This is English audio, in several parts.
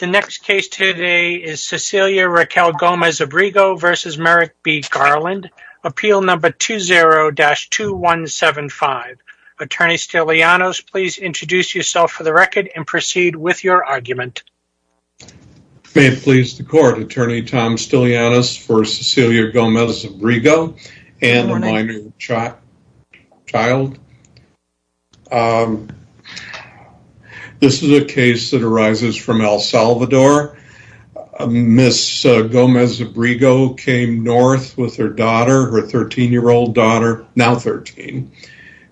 The next case today is Cecilia Raquel Gomez-Abrego v. Merrick B. Garland, Appeal No. 20-2175. Attorney Stiglianos, please introduce yourself for the record and proceed with your argument. May it please the court, Attorney Tom Stiglianos for Cecilia Gomez-Abrego and a minor child. This is a case that arises from El Salvador. Ms. Gomez-Abrego came north with her daughter, her 13-year-old daughter, now 13,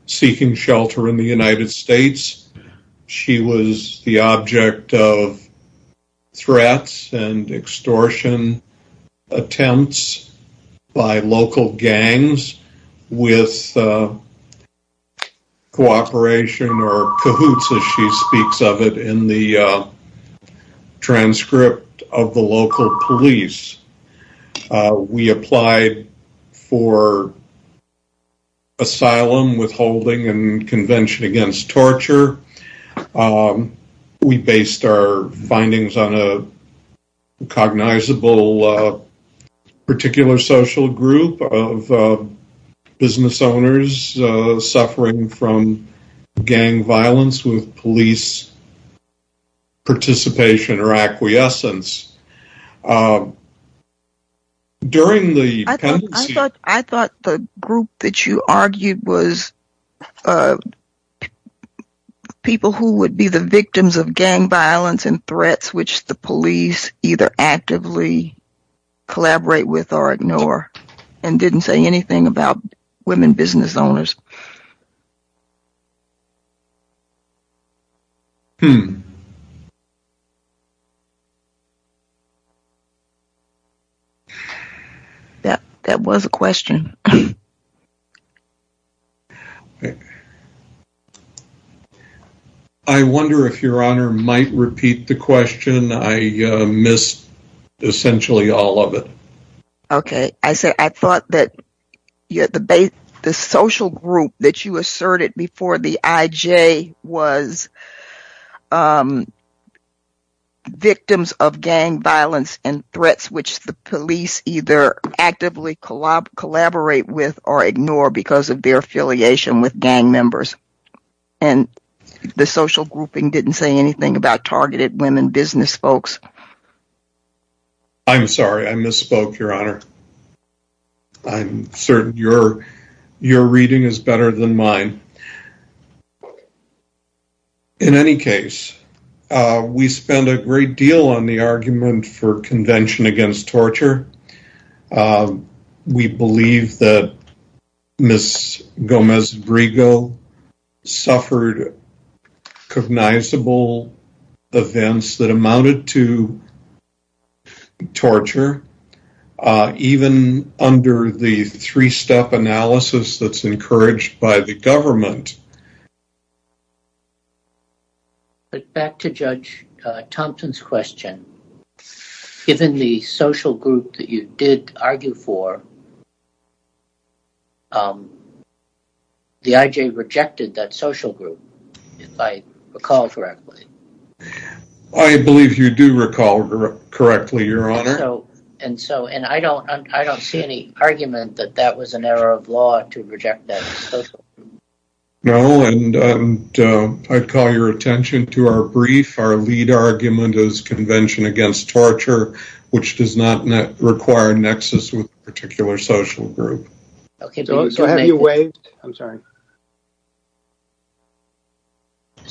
seeking shelter in the United States. She was the object of threats and extortion attempts by local gangs with cooperation or cahoots, as she speaks of it, in the transcript of the local police. We applied for asylum, withholding, and convention against torture. We based our findings on a cognizable particular social group of business owners suffering from gang violence with police participation or acquiescence. I thought the group that you argued was people who would be the victims of gang violence and threats which the police either actively collaborate with or ignore and didn't say anything about women business owners. That was a question. I wonder if your honor might repeat the question. I missed essentially all of it. Okay, I said I thought that the social group that you asserted before the IJ was victims of gang violence and threats which the police either actively collaborate with or ignore because of their affiliation with gang members and the social grouping didn't say anything about targeted women business folks. I'm sorry, I misspoke, your honor. I'm certain your reading is better than mine. In any case, we spend a great deal on the argument for convention against torture. We believe that Ms. Gomez-Brigo suffered cognizable events that amounted to harassment. But back to Judge Thompson's question, given the social group that you did argue for, the IJ rejected that social group, if I recall correctly. I believe you do recall correctly, your honor. And so and I don't see any argument that that was an error of law to reject that. No, and I'd call your attention to our brief. Our lead argument is convention against torture, which does not require a nexus with a particular social group.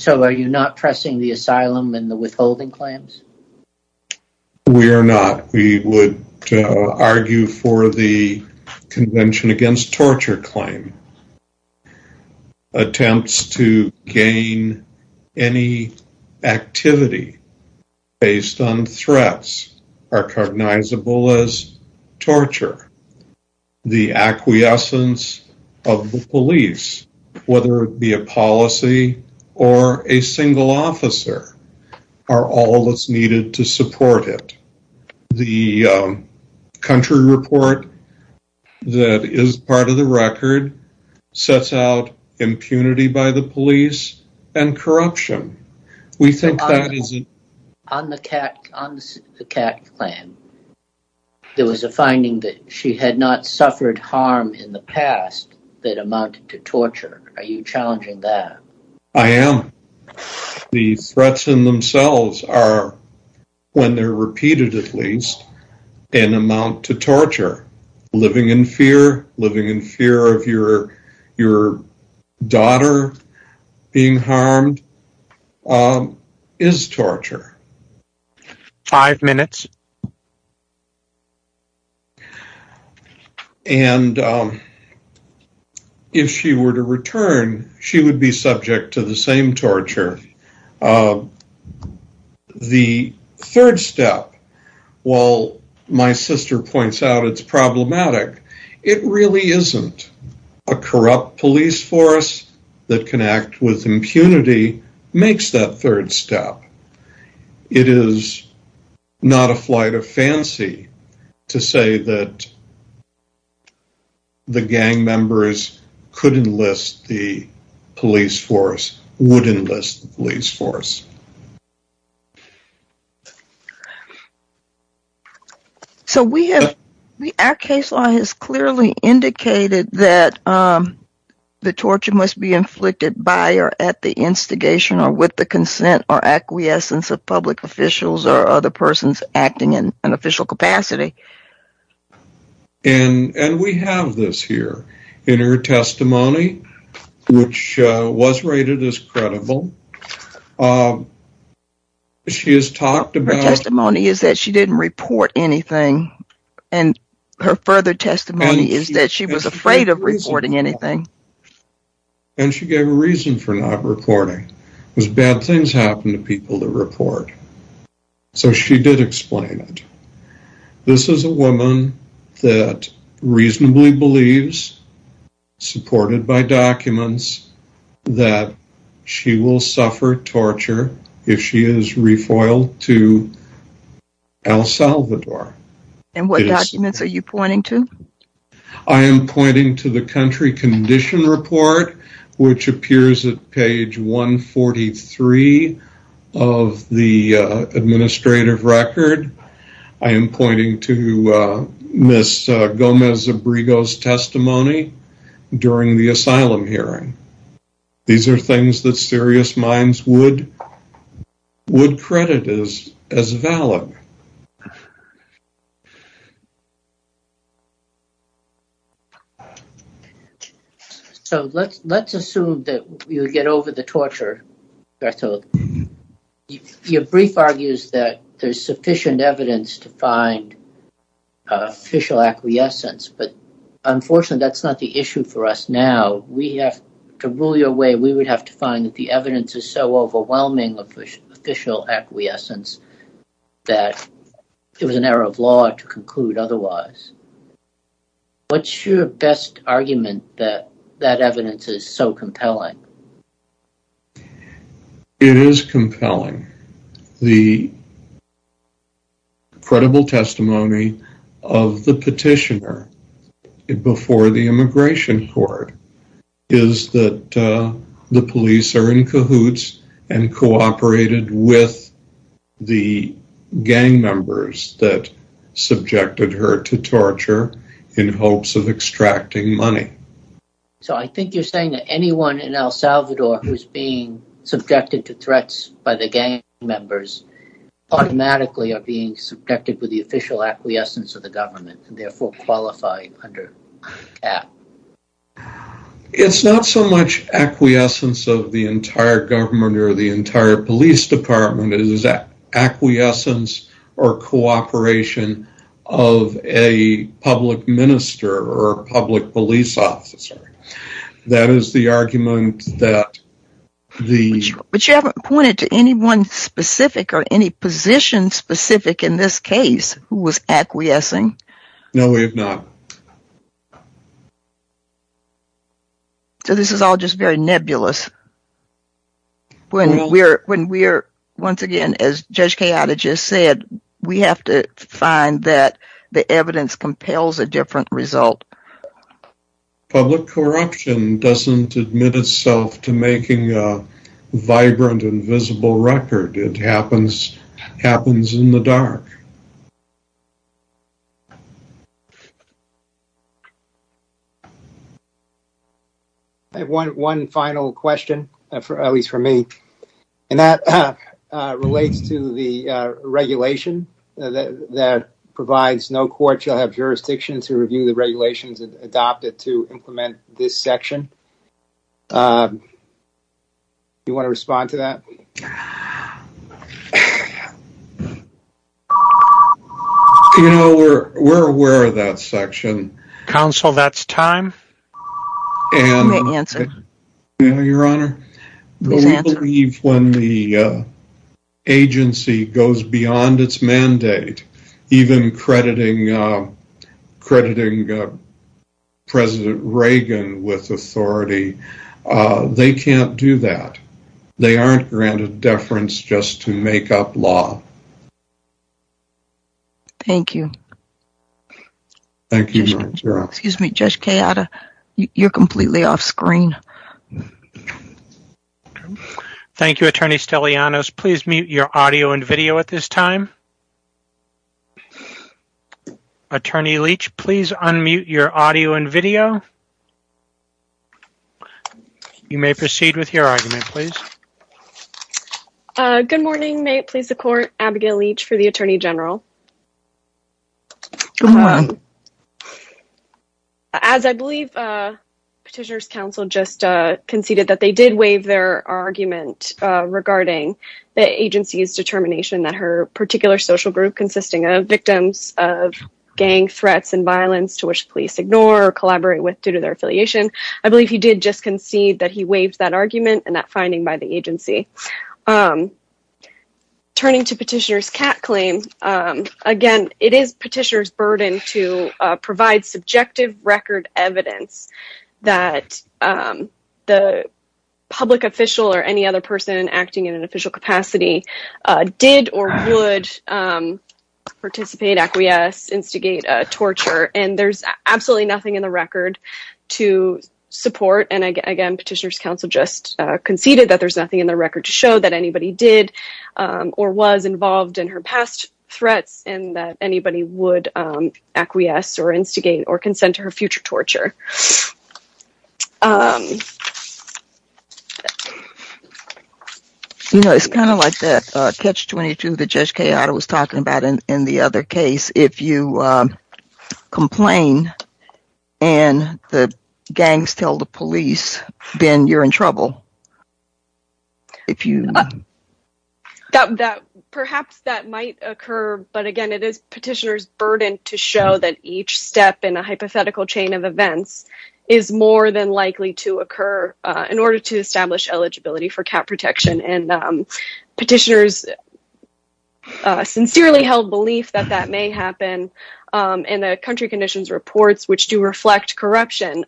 So are you not pressing the asylum and the withholding claims? We are not. We would argue for the convention against torture claim. Attempts to gain any activity based on threats are cognizable as torture. The acquiescence of the police, whether it be a policy or a single officer, are all that's needed to support it. The country report that is part of the record sets out impunity by the police and corruption. We think that is... On the Kat claim, there was a finding that she had not suffered harm in the past that amounted to torture. Are you challenging that? I am. The threats in themselves are, when they're repeated at least, an amount to torture. Living in fear, living in fear of your daughter being harmed is torture. Five minutes. And if she were to return, she would be subject to the same torture. The third step, while my sister points out it's problematic, it really isn't. A corrupt police force that can act with impunity makes that third step. It is not a flight of fancy to say that the gang members could enlist the police force, would enlist the police force. So we have... Our case law has clearly indicated that the torture must be inflicted by or at the instigation or with the consent or acquiescence of public officials or other persons acting in an official capacity. And we have this here in her testimony, which was rated as credible. She has talked about... Her testimony is that she didn't report anything. And her further testimony is that she was afraid of reporting anything. And she gave a reason for not reporting. Because bad things happen to people that report. So she did explain it. This is a woman that reasonably believes, supported by documents, that she will suffer torture if she is refoiled to El Salvador. And what documents are you pointing to? I am pointing to the country condition report, which appears at page 143 of the administrative record. I am pointing to Ms. Gomez-Zabrigo's testimony during the asylum hearing. These are things that serious minds would credit as valid. So let's assume that you get over the torture. Your brief argues that there's sufficient evidence to find official acquiescence. But unfortunately, that's not the issue for us now. We have... To rule your way, we would have to find that the evidence is so overwhelming of official acquiescence that it was an error of law to conclude otherwise. What's your best argument that that evidence is so compelling? It is compelling. The credible testimony of the petitioner before the immigration court is that the police are in cahoots and cooperated with the gang members that subjected her to torture in hopes of extracting money. So I think you're saying that anyone in El Salvador who's being subjected to threats by the gang members automatically are being subjected with the official acquiescence of the government and therefore qualify under that. It's not so much acquiescence of the entire government or the entire police department. It is that acquiescence or cooperation of a public minister or public police officer. That is the argument that the... But you haven't pointed to anyone specific or any position specific in this case who was No, we have not. So this is all just very nebulous. When we're, once again, as Judge Cayatta just said, we have to find that the evidence compels a different result. Public corruption doesn't admit itself to making a vibrant and visible record. It happens in the dark. I have one final question, at least for me, and that relates to the regulation that provides no court shall have jurisdiction to review the regulations adopted to implement this section. Do you want to respond to that? You know, we're aware of that section. Counsel, that's time. And your honor, we believe when the agency goes beyond its mandate, even crediting President Reagan with authority, they can't do that. They aren't granted deference just to make up law. Thank you. Thank you, Your Honor. Excuse me, Judge Cayatta, you're completely off screen. Thank you, Attorney Stellianos. Please mute your audio and video at this time. Attorney Leach, please unmute your audio and video. You may proceed with your argument, please. Good morning. May it please the Court, Abigail Leach for the Attorney General. Good morning. As I believe Petitioner's Counsel just conceded that they did waive their argument regarding the agency's determination that her particular social group consisting of victims of gang threats and violence to which police ignore or collaborate with due to their affiliation. I believe he did just concede that he waived that argument and that finding by the agency. Turning to Petitioner's CAT claim, again, it is Petitioner's burden to provide subjective record evidence that the public official or any other person acting in an official capacity did or would participate, acquiesce, instigate torture, and there's absolutely nothing in the record to support. And again, Petitioner's Counsel just conceded that there's nothing in the record to show that anybody did or was involved in her past threats and that anybody would acquiesce or instigate or consent to her future torture. You know, it's kind of like that Catch-22 that Judge Cayotta was talking about in the other case. If you complain and the gangs tell the police, then you're in trouble. If you... Perhaps that might occur, but again, it is Petitioner's burden to show that each step is more than likely to occur in order to establish eligibility for CAT protection. And Petitioner's sincerely held belief that that may happen in the country conditions reports, which do reflect corruption.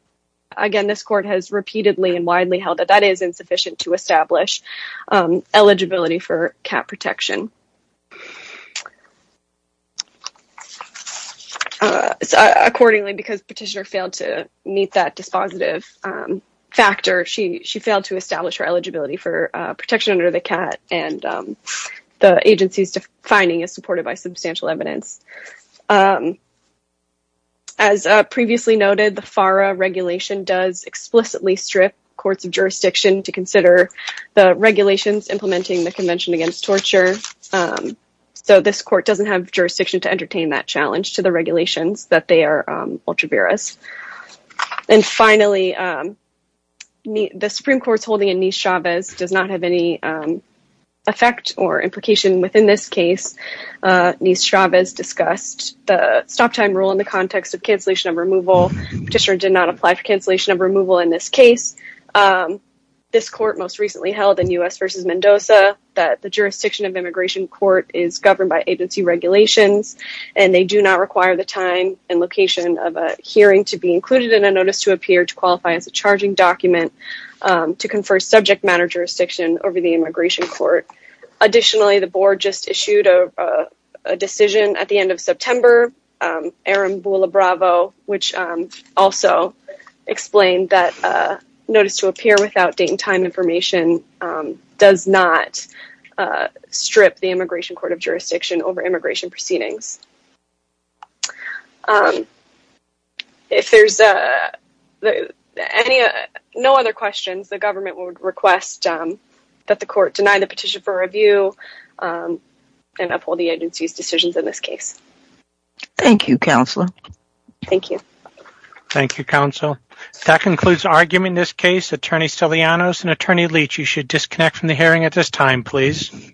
Again, this court has repeatedly and widely held that that is insufficient to establish eligibility for CAT protection. Accordingly, because Petitioner failed to meet that dispositive factor, she failed to establish her eligibility for protection under the CAT, and the agency's finding is supported by substantial evidence. As previously noted, the FARA regulation does explicitly strip courts of jurisdiction to consider the regulations implementing the Convention Against Torture, and it does not so this court doesn't have jurisdiction to entertain that challenge to the regulations that they are ultravirous. And finally, the Supreme Court's holding in Nice-Chavez does not have any effect or implication within this case. Nice-Chavez discussed the stop time rule in the context of cancellation of removal. Petitioner did not apply for cancellation of removal in this case. This court most recently held in U.S. v. Mendoza that the jurisdiction of immigration court is governed by agency regulations, and they do not require the time and location of a hearing to be included in a notice to appear to qualify as a charging document to confer subject matter jurisdiction over the immigration court. Additionally, the board just issued a decision at the end of September, Aaron Bula-Bravo, which also explained that notice to appear without date and time information does not strip the immigration court of jurisdiction over immigration proceedings. If there's no other questions, the government would request that the court deny the petition for review and uphold the agency's decisions in this case. Thank you, Counselor. Thank you. Thank you, Attorney Sillianos and Attorney Leach. You should disconnect from the hearing at this time, please.